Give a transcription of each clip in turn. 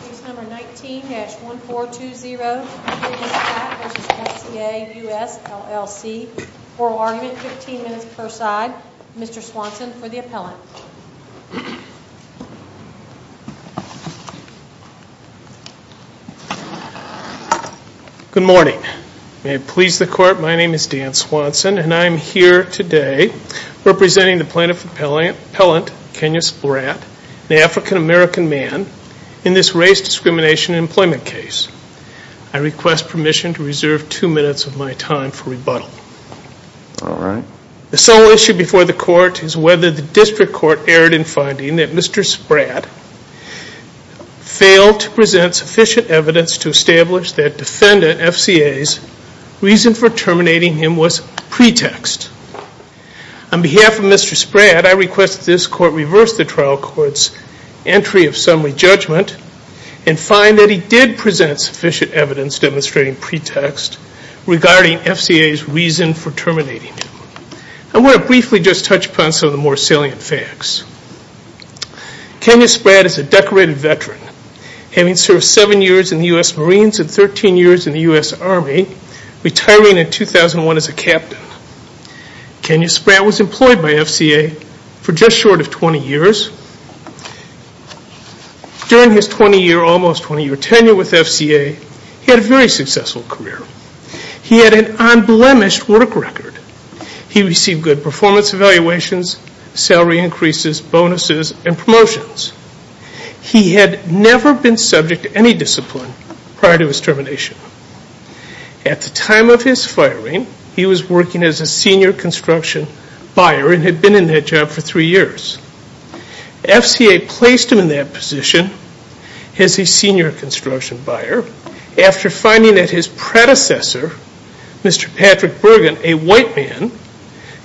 Case number 19-1420 Kenyus Spratt v. FCA US LLC Oral argument, 15 minutes per side Mr. Swanson for the appellant Good morning May it please the court, my name is Dan Swanson and I am here today representing the plaintiff appellant Kenyus Spratt, an African American man in this race discrimination employment case I request permission to reserve 2 minutes of my time for rebuttal The sole issue before the court is whether the district court erred in finding that Mr. Spratt failed to present sufficient evidence to establish that defendant FCA's reason for terminating him was pretext On behalf of Mr. Spratt, I request that this court reverse the trial court's entry of summary judgment and find that he did present sufficient evidence demonstrating pretext regarding FCA's reason for terminating him I want to briefly just touch upon some of the more salient facts Kenyus Spratt is a decorated veteran having served 7 years in the U.S. Marines and 13 years in the U.S. Army retiring in 2001 as a captain Kenyus Spratt was employed by FCA for just short of 20 years During his 20 year, almost 20 year, tenure with FCA he had a very successful career He had an unblemished work record He received good performance evaluations, salary increases, bonuses, and promotions He had never been subject to any discipline prior to his termination At the time of his firing, he was working as a senior construction buyer and had been in that job for 3 years FCA placed him in that position as a senior construction buyer after finding that his predecessor, Mr. Patrick Bergen, a white man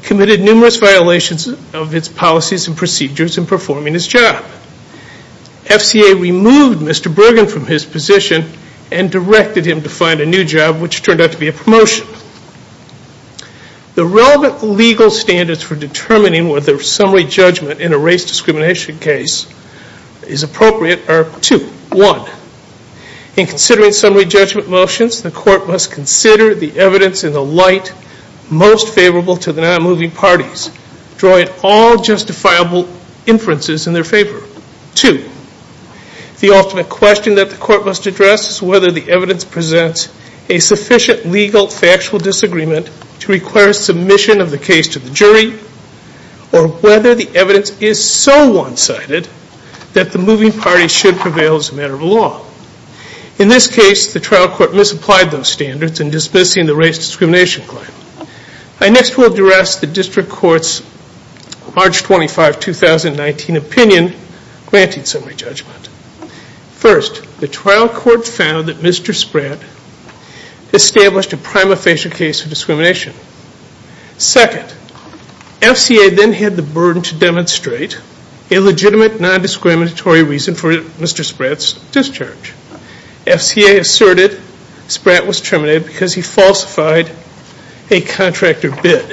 committed numerous violations of his policies and procedures in performing his job FCA removed Mr. Bergen from his position and directed him to find a new job, which turned out to be a promotion The relevant legal standards for determining whether summary judgment in a race discrimination case is appropriate are two One, in considering summary judgment motions, the court must consider the evidence in the light most favorable to the non-moving parties drawing all justifiable inferences in their favor Two, the ultimate question that the court must address is whether the evidence presents a sufficient legal factual disagreement to require submission of the case to the jury or whether the evidence is so one-sided that the moving parties should prevail as a matter of law In this case, the trial court misapplied those standards in dismissing the race discrimination claim I next will address the district court's March 25, 2019 opinion granting summary judgment First, the trial court found that Mr. Spratt established a prima facie case of discrimination Second, FCA then had the burden to demonstrate a legitimate non-discriminatory reason for Mr. Spratt's discharge FCA asserted Spratt was terminated because he falsified a contractor bid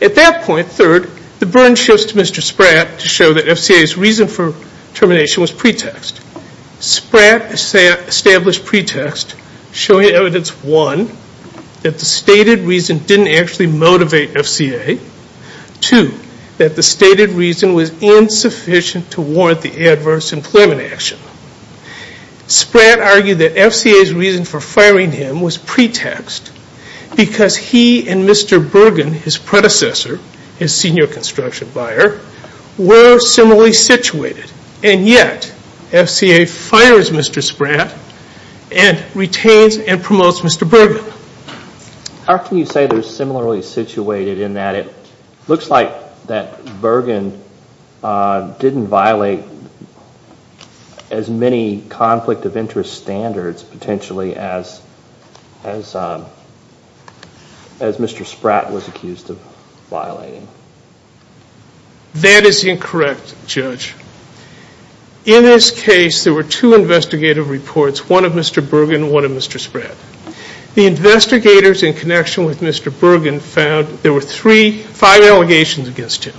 At that point, third, the burden shifts to Mr. Spratt to show that FCA's reason for termination was pretext Spratt established pretext showing evidence One, that the stated reason didn't actually motivate FCA Two, that the stated reason was insufficient to warrant the adverse employment action Spratt argued that FCA's reason for firing him was pretext because he and Mr. Bergen, his predecessor, his senior construction buyer were similarly situated and yet, FCA fires Mr. Spratt and retains and promotes Mr. Bergen How can you say they're similarly situated in that it looks like that Bergen didn't violate as many conflict of interest standards potentially as Mr. Spratt was accused of violating That is incorrect, Judge In this case, there were two investigative reports One of Mr. Bergen, one of Mr. Spratt The investigators in connection with Mr. Bergen found there were three, five allegations against him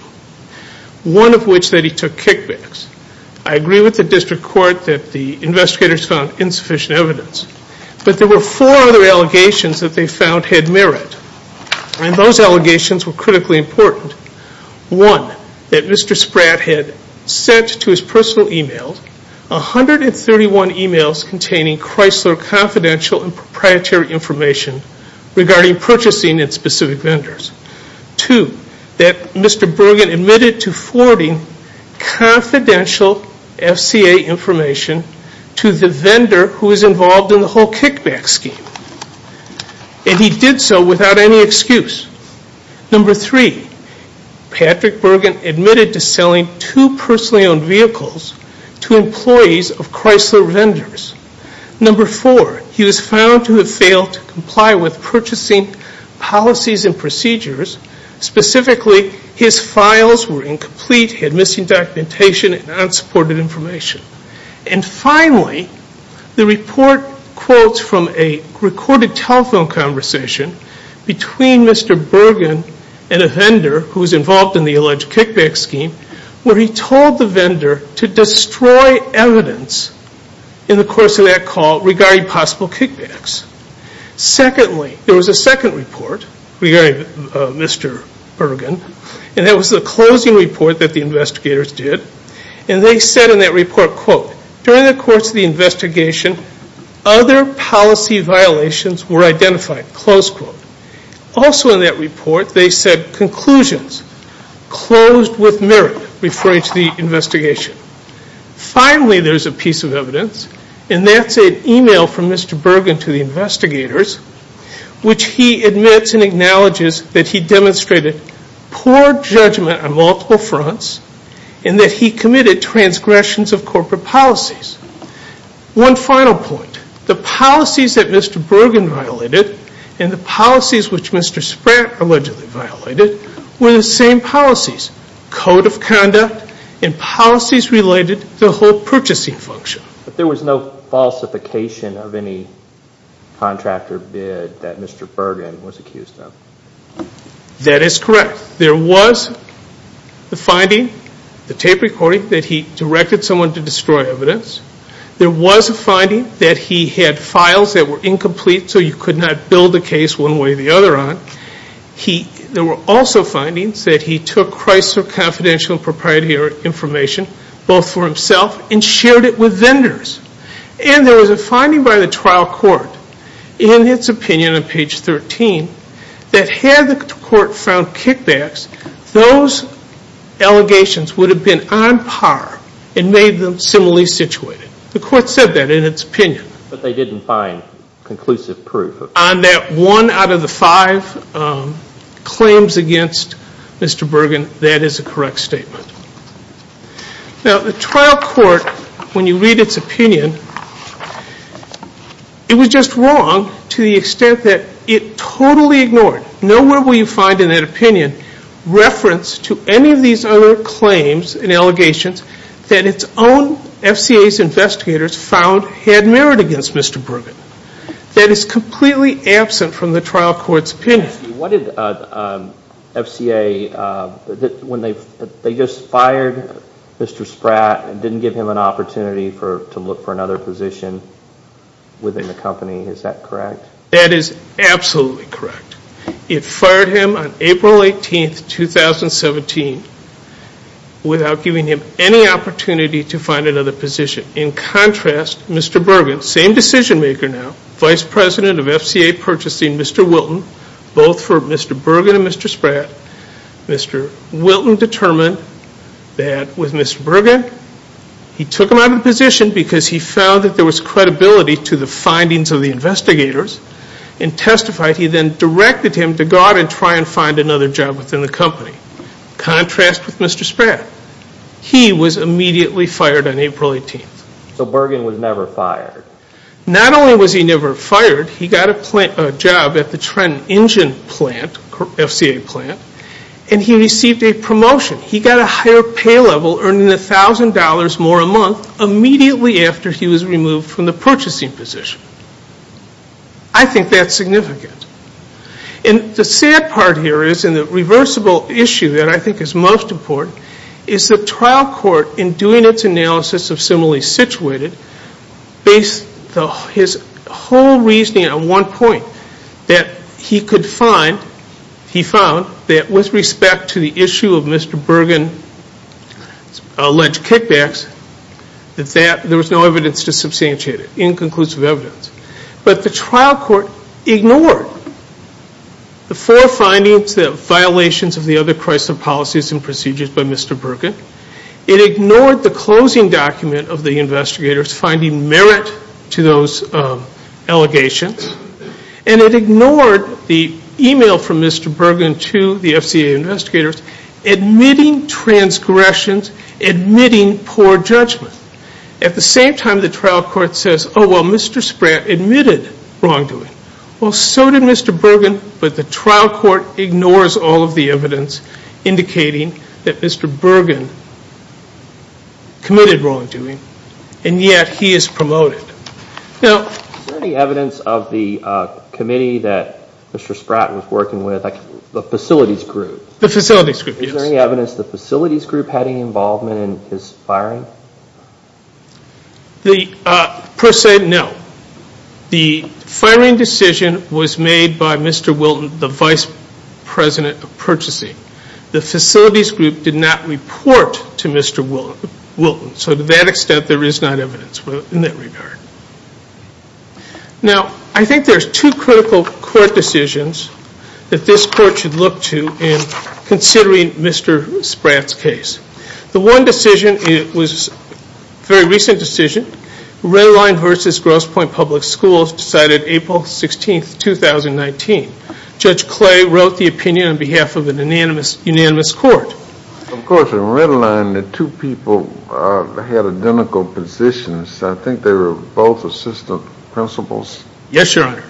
One of which that he took kickbacks I agree with the district court that the investigators found insufficient evidence but there were four other allegations that they found had merit and those allegations were critically important One, that Mr. Spratt had sent to his personal emails 131 emails containing Chrysler confidential and proprietary information regarding purchasing and specific vendors Two, that Mr. Bergen admitted to forwarding confidential FCA information to the vendor who was involved in the whole kickback scheme and he did so without any excuse Number three, Patrick Bergen admitted to selling two personally owned vehicles to employees of Chrysler vendors Number four, he was found to have failed to comply with purchasing policies and procedures Specifically, his files were incomplete, had missing documentation and unsupported information And finally, the report quotes from a recorded telephone conversation between Mr. Bergen and a vendor who was involved in the alleged kickback scheme where he told the vendor to destroy evidence in the course of that call regarding possible kickbacks Secondly, there was a second report regarding Mr. Bergen and that was the closing report that the investigators did and they said in that report, quote During the course of the investigation, other policy violations were identified, close quote Also in that report, they said conclusions closed with merit, referring to the investigation Finally, there's a piece of evidence and that's an email from Mr. Bergen to the investigators which he admits and acknowledges that he demonstrated poor judgment on multiple fronts and that he committed transgressions of corporate policies One final point, the policies that Mr. Bergen violated and the policies which Mr. Spratt allegedly violated were the same policies, code of conduct and policies related to the whole purchasing function But there was no falsification of any contractor bid that Mr. Bergen was accused of That is correct There was the finding, the tape recording that he directed someone to destroy evidence There was a finding that he had files that were incomplete so you could not build a case one way or the other on There were also findings that he took Chrysler Confidential and Proprietary Information both for himself and shared it with vendors And there was a finding by the trial court in its opinion on page 13 that had the court found kickbacks, those allegations would have been on par and made them similarly situated The court said that in its opinion But they didn't find conclusive proof On that one out of the five claims against Mr. Bergen, that is a correct statement Now the trial court, when you read its opinion it was just wrong to the extent that it totally ignored Nowhere will you find in that opinion reference to any of these other claims and allegations that its own FCA's investigators found had merit against Mr. Bergen That is completely absent from the trial court's opinion What did FCA, when they just fired Mr. Spratt didn't give him an opportunity to look for another position within the company, is that correct? That is absolutely correct It fired him on April 18th, 2017 without giving him any opportunity to find another position In contrast, Mr. Bergen, same decision maker now Vice President of FCA purchasing Mr. Wilton both for Mr. Bergen and Mr. Spratt Mr. Wilton determined that with Mr. Bergen he took him out of the position because he found that there was credibility to the findings of the investigators and testified, he then directed him to go out and try and find another job within the company Contrast with Mr. Spratt He was immediately fired on April 18th So Bergen was never fired Not only was he never fired, he got a job at the Trenton Engine plant FCA plant and he received a promotion He got a higher pay level, earning $1,000 more a month immediately after he was removed from the purchasing position I think that's significant And the sad part here is, and the reversible issue that I think is most important is the trial court, in doing its analysis of similarly situated based his whole reasoning on one point that he could find, he found that with respect to the issue of Mr. Bergen's alleged kickbacks that there was no evidence to substantiate it, inconclusive evidence But the trial court ignored the four findings, the violations of the other Chrysler policies and procedures by Mr. Bergen It ignored the closing document of the investigators finding merit to those allegations And it ignored the email from Mr. Bergen to the FCA investigators admitting transgressions, admitting poor judgment At the same time the trial court says, oh well Mr. Spratt admitted wrongdoing Well so did Mr. Bergen, but the trial court ignores all of the evidence indicating that Mr. Bergen committed wrongdoing and yet he is promoted Is there any evidence of the committee that Mr. Spratt was working with, the facilities group? The facilities group, yes Is there any evidence the facilities group had any involvement in his firing? The, per se, no The firing decision was made by Mr. Wilton, the vice president of purchasing The facilities group did not report to Mr. Wilton So to that extent there is not evidence in that regard Now, I think there's two critical court decisions that this court should look to in considering Mr. Spratt's case The one decision, it was a very recent decision Redline v. Grosse Point Public Schools decided April 16, 2019 Judge Clay wrote the opinion on behalf of an unanimous court Of course, in Redline the two people had identical positions I think they were both assistant principals Yes, your honor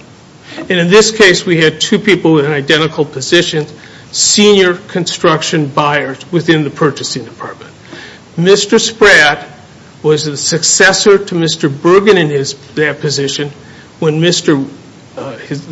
And in this case we had two people with identical positions Senior construction buyers within the purchasing department Mr. Spratt was a successor to Mr. Bergen in that position when the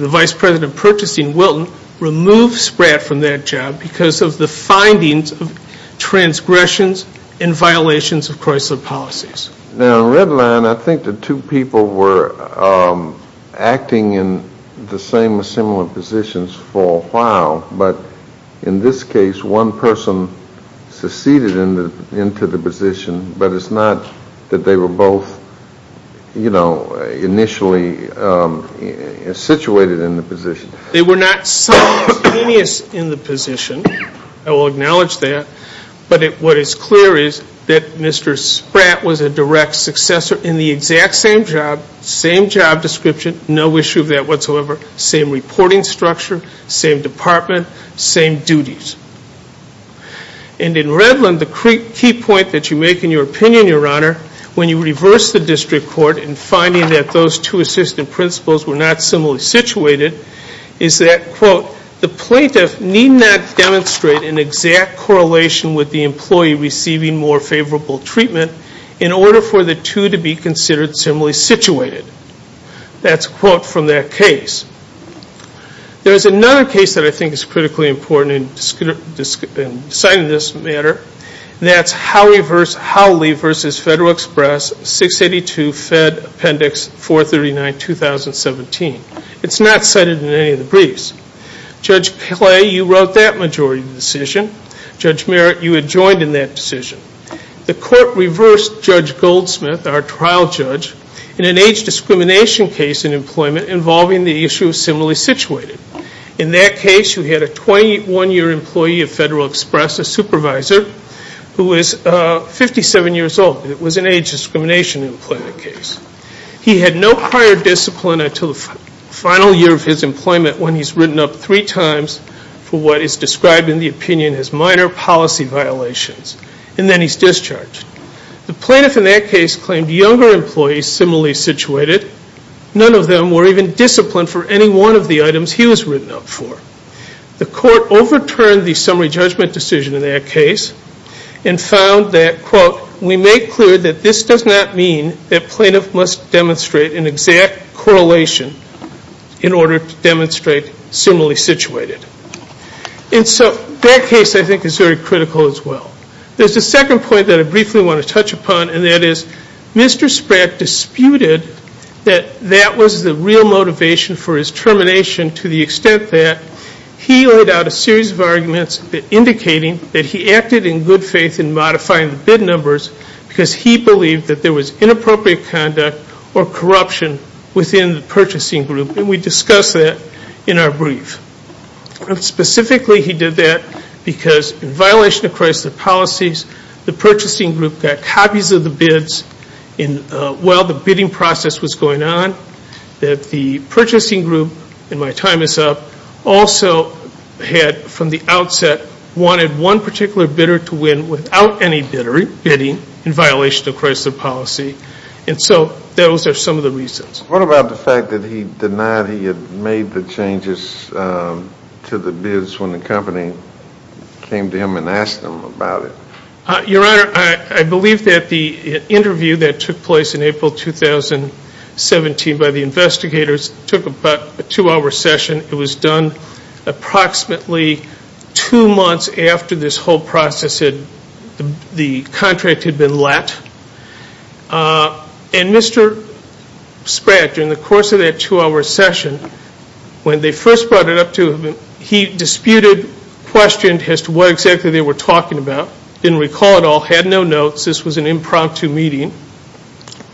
vice president of purchasing, Wilton, removed Spratt from that job because of the findings of transgressions and violations of Chrysler policies Now, in Redline I think the two people were acting in the same or similar positions for a while But in this case one person seceded into the position But it's not that they were both, you know, initially situated in the position They were not simultaneously in the position I will acknowledge that But what is clear is that Mr. Spratt was a direct successor in the exact same job Same job description, no issue of that whatsoever Same reporting structure, same department, same duties And in Redline the key point that you make in your opinion, your honor When you reverse the district court in finding that those two assistant principals were not similarly situated Is that, quote, the plaintiff need not demonstrate an exact correlation with the employee receiving more favorable treatment In order for the two to be considered similarly situated That's a quote from that case There's another case that I think is critically important in deciding this matter That's Howley v. Federal Express 682 Fed Appendix 439, 2017 It's not cited in any of the briefs Judge Clay, you wrote that majority decision Judge Merritt, you had joined in that decision The court reversed Judge Goldsmith, our trial judge In an age discrimination case in employment involving the issue of similarly situated In that case, you had a 21-year employee of Federal Express, a supervisor Who is 57 years old It was an age discrimination employment case He had no prior discipline until the final year of his employment When he's written up three times for what is described in the opinion as minor policy violations And then he's discharged The plaintiff in that case claimed younger employees similarly situated None of them were even disciplined for any one of the items he was written up for The court overturned the summary judgment decision in that case And found that, quote, we make clear that this does not mean That plaintiff must demonstrate an exact correlation In order to demonstrate similarly situated And so that case I think is very critical as well There's a second point that I briefly want to touch upon And that is, Mr. Spratt disputed that that was the real motivation for his termination To the extent that he laid out a series of arguments Indicating that he acted in good faith in modifying the bid numbers Because he believed that there was inappropriate conduct Or corruption within the purchasing group And we discussed that in our brief Specifically he did that because in violation of Chrysler policies The purchasing group got copies of the bids While the bidding process was going on That the purchasing group, and my time is up Also had, from the outset, wanted one particular bidder to win Without any bidding in violation of Chrysler policy And so those are some of the reasons What about the fact that he denied he had made the changes to the bids When the company came to him and asked him about it? Your Honor, I believe that the interview that took place in April 2017 By the investigators took about a two hour session It was done approximately two months after this whole process The contract had been let And Mr. Spratt, during the course of that two hour session When they first brought it up to him He disputed, questioned as to what exactly they were talking about Didn't recall it all, had no notes This was an impromptu meeting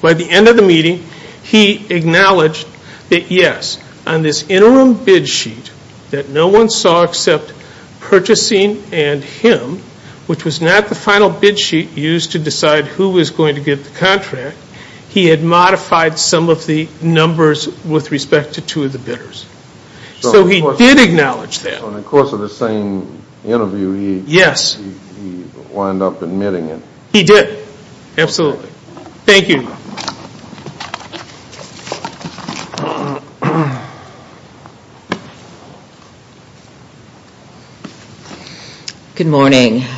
By the end of the meeting he acknowledged That yes, on this interim bid sheet That no one saw except purchasing and him Which was not the final bid sheet used to decide who was going to get the contract He had modified some of the numbers with respect to two of the bidders So he did acknowledge that So in the course of the same interview he Yes He wound up admitting it He did, absolutely Thank you Good morning Good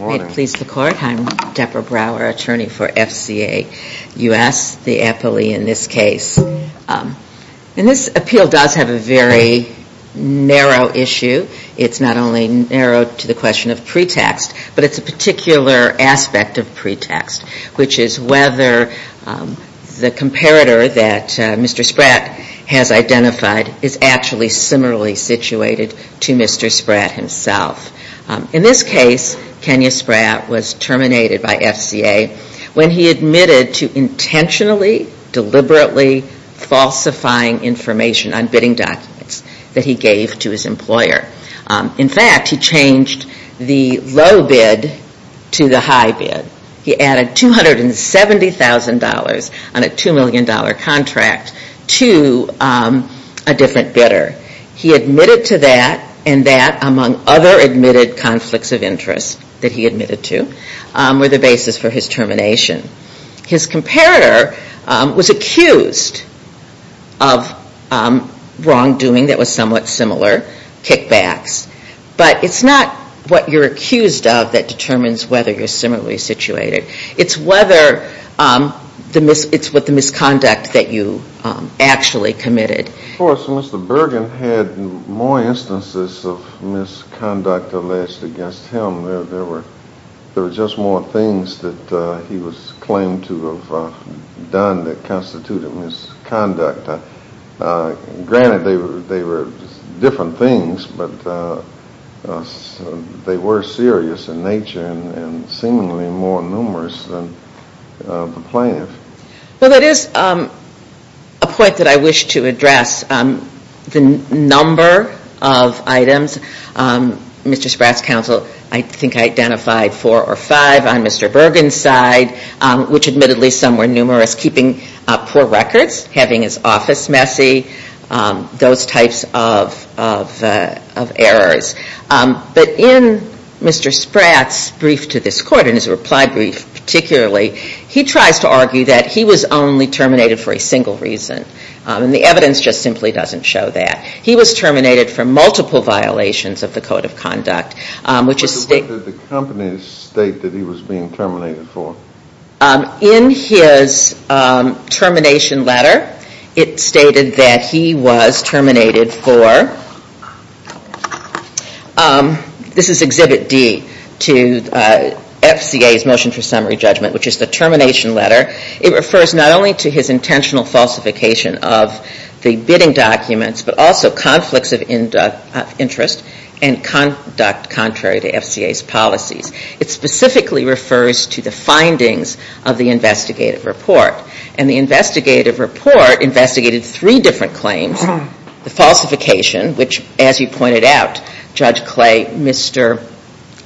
morning May it please the court I'm Debra Brower, attorney for FCA U.S. The appellee in this case And this appeal does have a very narrow issue It's not only narrow to the question of pretext But it's a particular aspect of pretext Which is whether or not the applicant The comparator that Mr. Spratt has identified Is actually similarly situated to Mr. Spratt himself In this case, Kenya Spratt was terminated by FCA When he admitted to intentionally, deliberately Falsifying information on bidding documents That he gave to his employer In fact, he changed the low bid to the high bid He added $270,000 on a $2 million contract To a different bidder He admitted to that And that, among other admitted conflicts of interest That he admitted to Were the basis for his termination His comparator was accused of wrongdoing That was somewhat similar Kickbacks But it's not what you're accused of That determines whether you're similarly situated It's whether It's with the misconduct that you actually committed Of course, Mr. Bergen had more instances Of misconduct alleged against him There were just more things That he was claimed to have done That constituted misconduct Granted, they were different things But they were serious in nature And seemingly more numerous than the plaintiff Well, that is a point that I wish to address The number of items Mr. Spratt's counsel I think identified four or five On Mr. Bergen's side Which admittedly, some were numerous Keeping poor records Having his office messy Those types of errors But in Mr. Spratt's brief to this court In his reply brief, particularly He tries to argue that he was only terminated For a single reason And the evidence just simply doesn't show that He was terminated for multiple violations Of the code of conduct Which is... So what did the company state That he was being terminated for? In his termination letter It stated that he was terminated for This is Exhibit D To FCA's motion for summary judgment Which is the termination letter It refers not only to his intentional falsification Of the bidding documents But also conflicts of interest And conduct contrary to FCA's policies It specifically refers to the findings Of the investigative report And the investigative report Investigated three different claims The falsification Which, as you pointed out, Judge Clay Mr.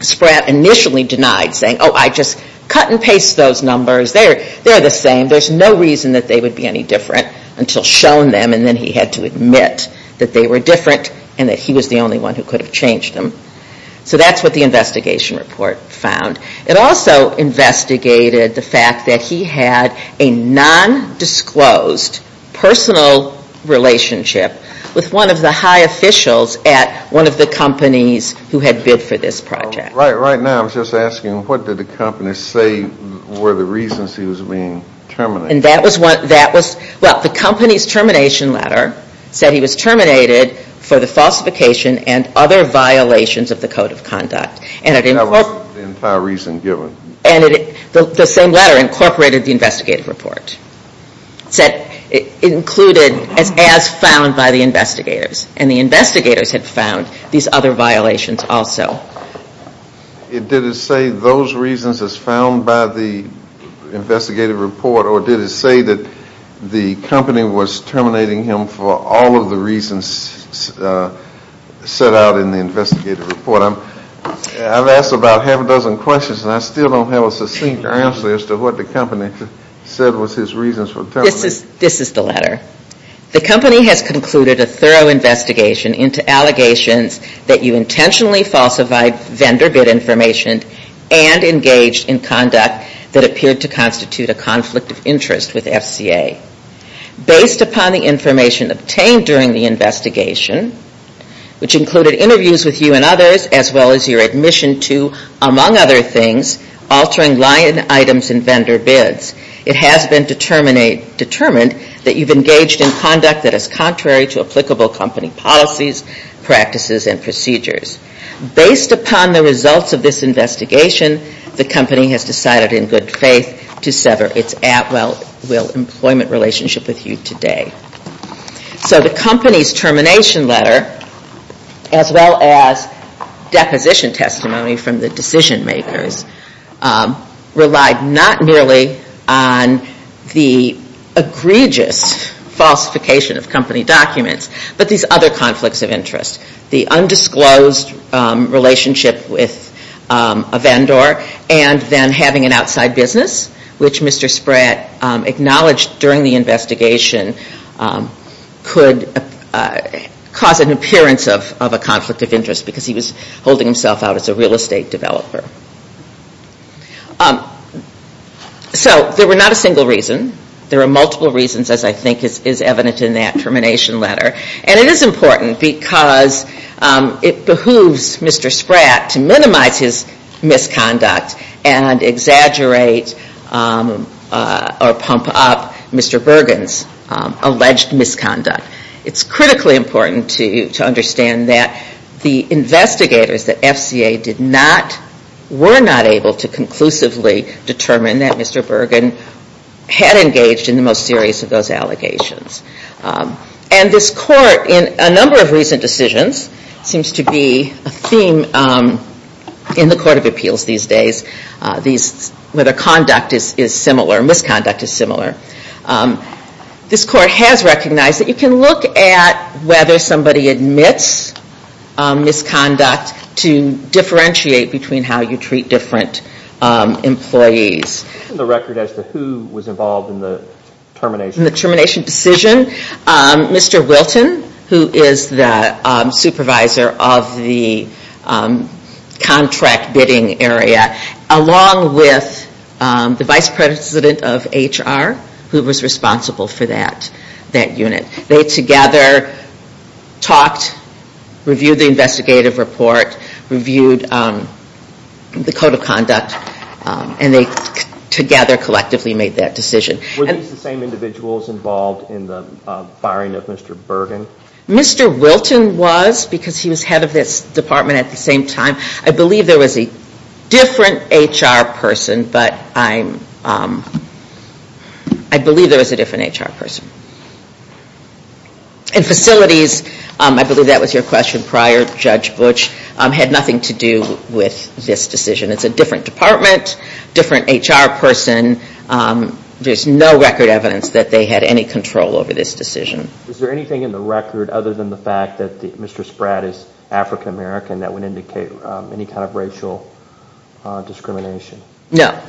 Spratt initially denied Saying, oh, I just cut and paste those numbers They're the same There's no reason that they would be any different Until shown them And then he had to admit That they were different And that he was the only one Who could have changed them So that's what the investigation report found It also investigated the fact That he had a non-disclosed Personal relationship With one of the high officials At one of the companies Who had bid for this project Right now, I'm just asking What did the company say Were the reasons he was being terminated? And that was Well, the company's termination letter Said he was terminated For the falsification And other violations of the code of conduct And it That was the entire reason given And it The same letter incorporated The investigative report Said It included As found by the investigators And the investigators had found These other violations also Did it say those reasons As found by the investigative report Or did it say that The company was terminating him For all of the reasons Set out in the investigative report I've asked about half a dozen questions And I still don't have a succinct answer As to what the company said Was his reasons for terminating This is the letter The company has concluded A thorough investigation Into allegations That you intentionally falsified Vendor bid information And engaged in conduct That appeared to constitute A conflict of interest with FCA Based upon the information Obtained during the investigation Which included interviews with you and others As well as your admission to Among other things Altering line items and vendor bids It has been determined That you've engaged in conduct That is contrary to applicable company policies Practices and procedures Based upon the results of this investigation The company has decided in good faith To sever its at will Employment relationship with you today So the company's termination letter As well as Deposition testimony From the decision makers Rely not merely On the egregious Falsification of company documents But these other conflicts of interest The undisclosed relationship With a vendor And then having an outside business Which Mr. Spratt Acknowledged during the investigation Could cause an appearance Of a conflict of interest Because he was holding himself out As a real estate developer So there were not a single reason There are multiple reasons As I think is evident In that termination letter And it is important Because it behooves Mr. Spratt To minimize his misconduct And exaggerate Or pump up Mr. Bergen's Alleged misconduct It's critically important To understand that The investigators that FCA did not Were not able to conclusively Determine that Mr. Bergen Had engaged in the most serious Of those allegations And this court In a number of recent decisions Seems to be a theme In the court of appeals these days Whether conduct is similar Misconduct is similar This court has recognized That you can look at Whether somebody admits Misconduct to differentiate Between how you treat Different employees The record as to who was involved In the termination In the termination decision Mr. Wilton Who is the supervisor Of the contract bidding area Along with the vice president of HR Who was responsible for that unit They together talked Reviewed the investigative report Reviewed the code of conduct And they together collectively Made that decision Were these the same individuals Involved in the firing of Mr. Bergen? Mr. Wilton was Because he was head of this department At the same time I believe there was a different HR person But I'm I believe there was a different HR person And facilities I believe that was your question prior Judge Butch Had nothing to do with this decision It's a different department Different HR person There's no record evidence That they had any control Over this decision Is there anything in the record Other than the fact that Mr. Spratt is African American That would indicate Any kind of racial discrimination? No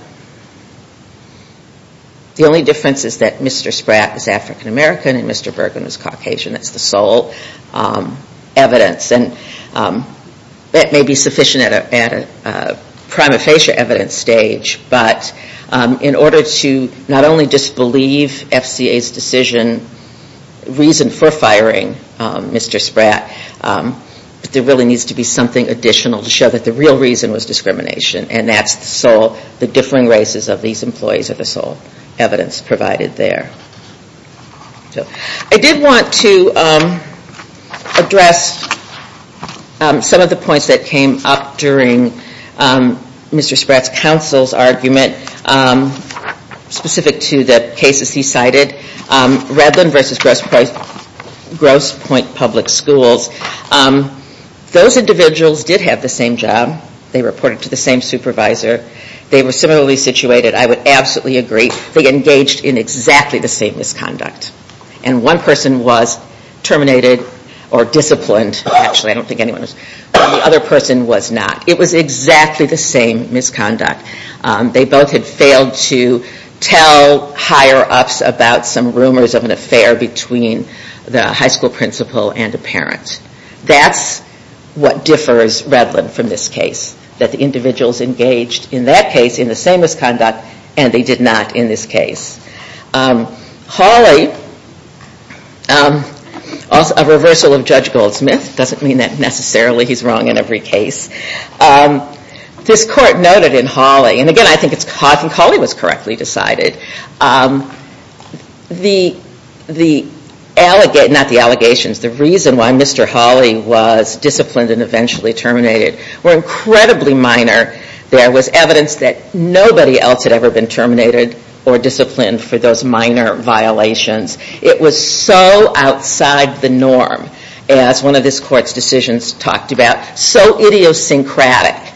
The only difference is that Mr. Spratt is African American And Mr. Bergen is Caucasian That's the sole evidence And that may be sufficient At a prima facie evidence stage But in order to Not only disbelieve FCA's decision Reason for firing Mr. Spratt There really needs to be Something additional To show that the real reason Was discrimination And that's the sole The differing races Of these employees Are the sole evidence Provided there I did want to Address Some of the points That came up during Mr. Spratt's counsel's argument Specific to the cases he cited Redland versus Grosse Pointe Public Schools Those individuals Did have the same job They reported to the same supervisor They were similarly situated I would absolutely agree They engaged in exactly The same misconduct And one person was Terminated or disciplined Actually I don't think anyone was The other person was not It was exactly the same misconduct They both had failed to Tell higher ups About some rumors of an affair Between the high school principal And a parent That's what differs Redland from this case That the individuals engaged In that case In the same misconduct And they did not in this case Hawley A reversal of Judge Goldsmith Doesn't mean that necessarily He's wrong in every case This court noted in Hawley And again I think Hawley Was correctly decided The Not the allegations The reason why Mr. Hawley Was disciplined and eventually Terminated were incredibly minor There was evidence that Nobody else had ever been Terminated or disciplined For those minor violations It was so outside the norm As one of this court's decisions Talked about So idiosyncratic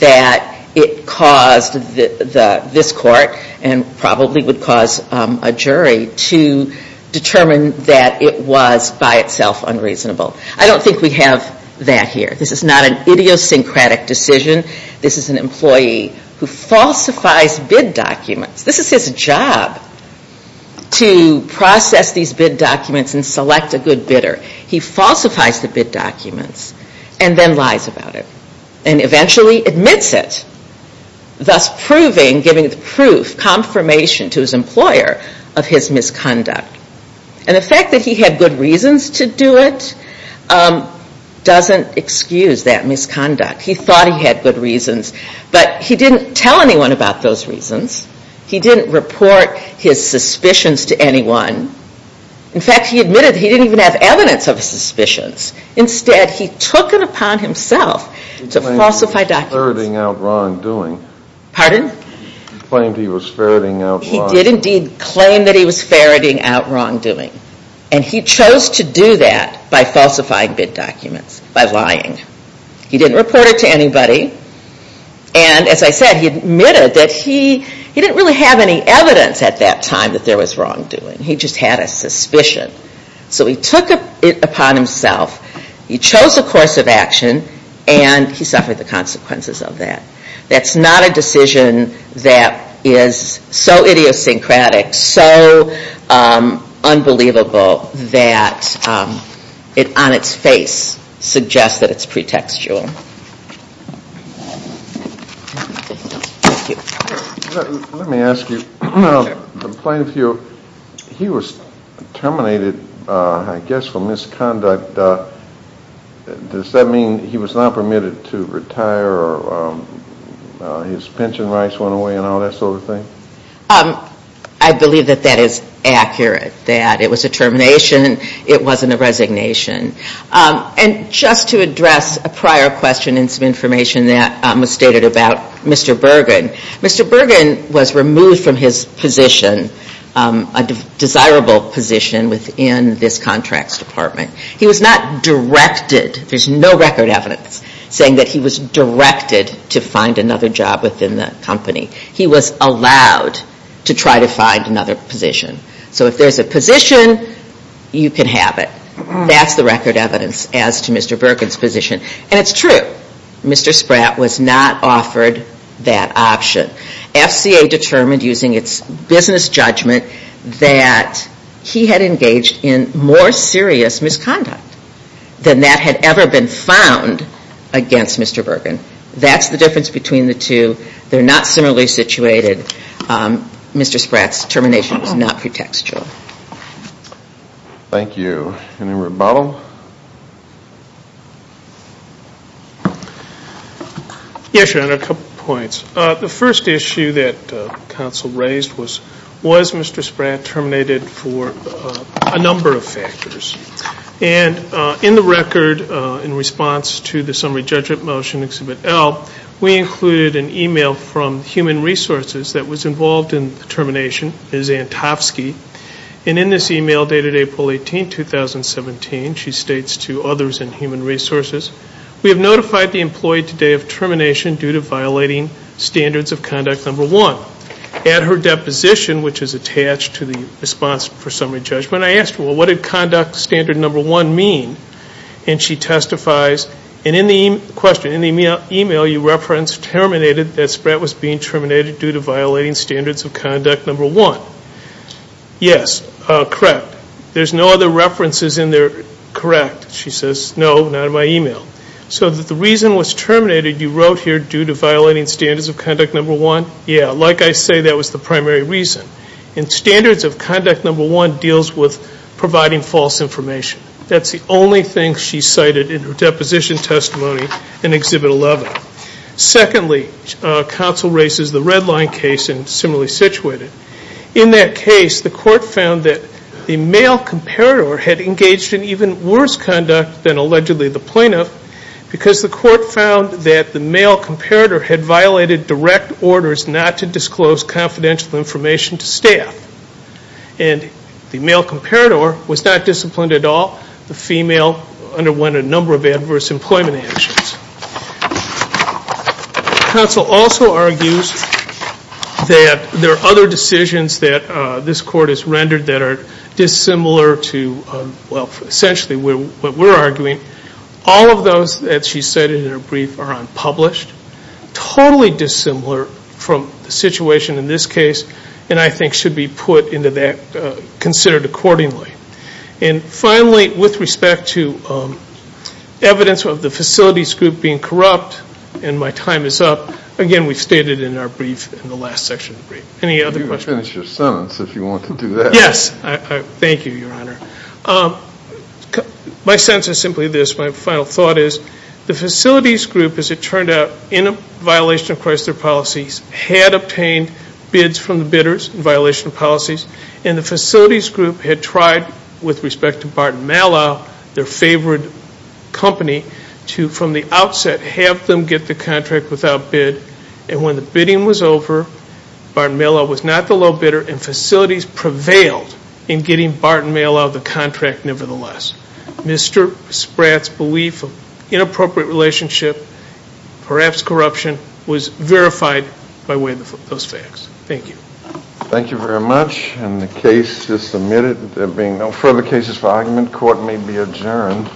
That it caused This court And probably would cause A jury to determine That it was by itself Unreasonable I don't think we have that here This is not an idiosyncratic decision This is an employee Who falsifies bid documents This is his job To process these bid documents And select a good bidder He falsifies the bid documents And then lies about it And eventually admits it Thus proving Giving the proof Confirmation to his employer Of his misconduct And the fact that he had Good reasons to do it Doesn't excuse that misconduct He thought he had good reasons But he didn't tell anyone About those reasons He didn't report his suspicions To anyone In fact he admitted He didn't even have evidence Of his suspicions Instead he took it upon himself To falsify documents He claimed he was ferreting out wrongdoing Pardon? He claimed he was ferreting out wrongdoing He did indeed claim That he was ferreting out wrongdoing And he chose to do that By falsifying bid documents By lying He didn't report it to anybody And as I said He admitted that he He didn't really have any evidence At that time That there was wrongdoing He just had a suspicion So he took it upon himself He chose a course of action And he suffered the consequences of that That's not a decision That is so idiosyncratic So unbelievable That it on its face Suggests that it's pretextual Let me ask you The plaintiff here He was terminated I guess for misconduct Does that mean He was not permitted to retire Or his pension rights went away And all that sort of thing? I believe that that is accurate That it was a termination It wasn't a resignation And just to address A prior question And some information That was stated about Mr. Bergen Mr. Bergen was removed from his position A desirable position Within this contracts department He was not directed There's no record evidence Saying that he was directed To find another job within the company He was allowed To try to find another position So if there's a position You can have it That's the record evidence As to Mr. Bergen's position And it's true Mr. Spratt was not offered That option FCA determined Using its business judgment That he had engaged In more serious misconduct Than that had ever been found Against Mr. Bergen That's the difference between the two They're not similarly situated Mr. Spratt's termination Is not pretextual Thank you Any more rebuttal? Yes, Your Honor A couple of points The first issue that Council raised was Was Mr. Spratt terminated For a number of factors And in the record In response to the summary judgment motion Exhibit L We included an email From Human Resources That was involved in the termination Ms. Antofsky And in this email Dated April 18, 2017 She states to others in Human Resources We have notified the employee today Of termination due to violating Standards of conduct number one At her deposition Which is attached to the response For summary judgment I asked her What did conduct standard number one mean? And she testifies And in the question In the email you referenced Terminated that Spratt was being terminated Due to violating standards of conduct number one Yes, correct There's no other references in there Correct, she says No, not in my email So the reason was terminated You wrote here Due to violating standards of conduct number one Yeah, like I say That was the primary reason And standards of conduct number one Deals with providing false information That's the only thing she cited In her deposition testimony In exhibit 11 Secondly Counsel races the Redline case And similarly situated In that case The court found that The male comparator Had engaged in even worse conduct Than allegedly the plaintiff Because the court found That the male comparator Had violated direct orders Not to disclose confidential information To staff And the male comparator Was not disciplined at all The female underwent a number of Adverse employment actions Counsel also argues That there are other decisions That this court has rendered That are dissimilar to Essentially what we're arguing All of those That she cited in her brief Are unpublished Totally dissimilar From the situation in this case And I think should be put Into that Considered accordingly And finally With respect to Evidence of the facilities group Being corrupt And my time is up Again we stated in our brief In the last section of the brief Any other questions? You can finish your sentence If you want to do that Yes Thank you your honor My sense is simply this My final thought is The facilities group As it turned out In a violation of Chrysler policies Had obtained Bids from the bidders In violation of policies And the facilities group Had tried With respect to Barton Malow Their favorite company To from the outset Have them get the contract Without bid And when the bidding was over Barton Malow was not the low bidder And facilities prevailed In getting Barton Malow The contract nevertheless Mr. Spratt's belief Of inappropriate relationship Perhaps corruption Was verified By way of those facts Thank you Thank you very much And the case is submitted There being no further cases for argument Court may be adjourned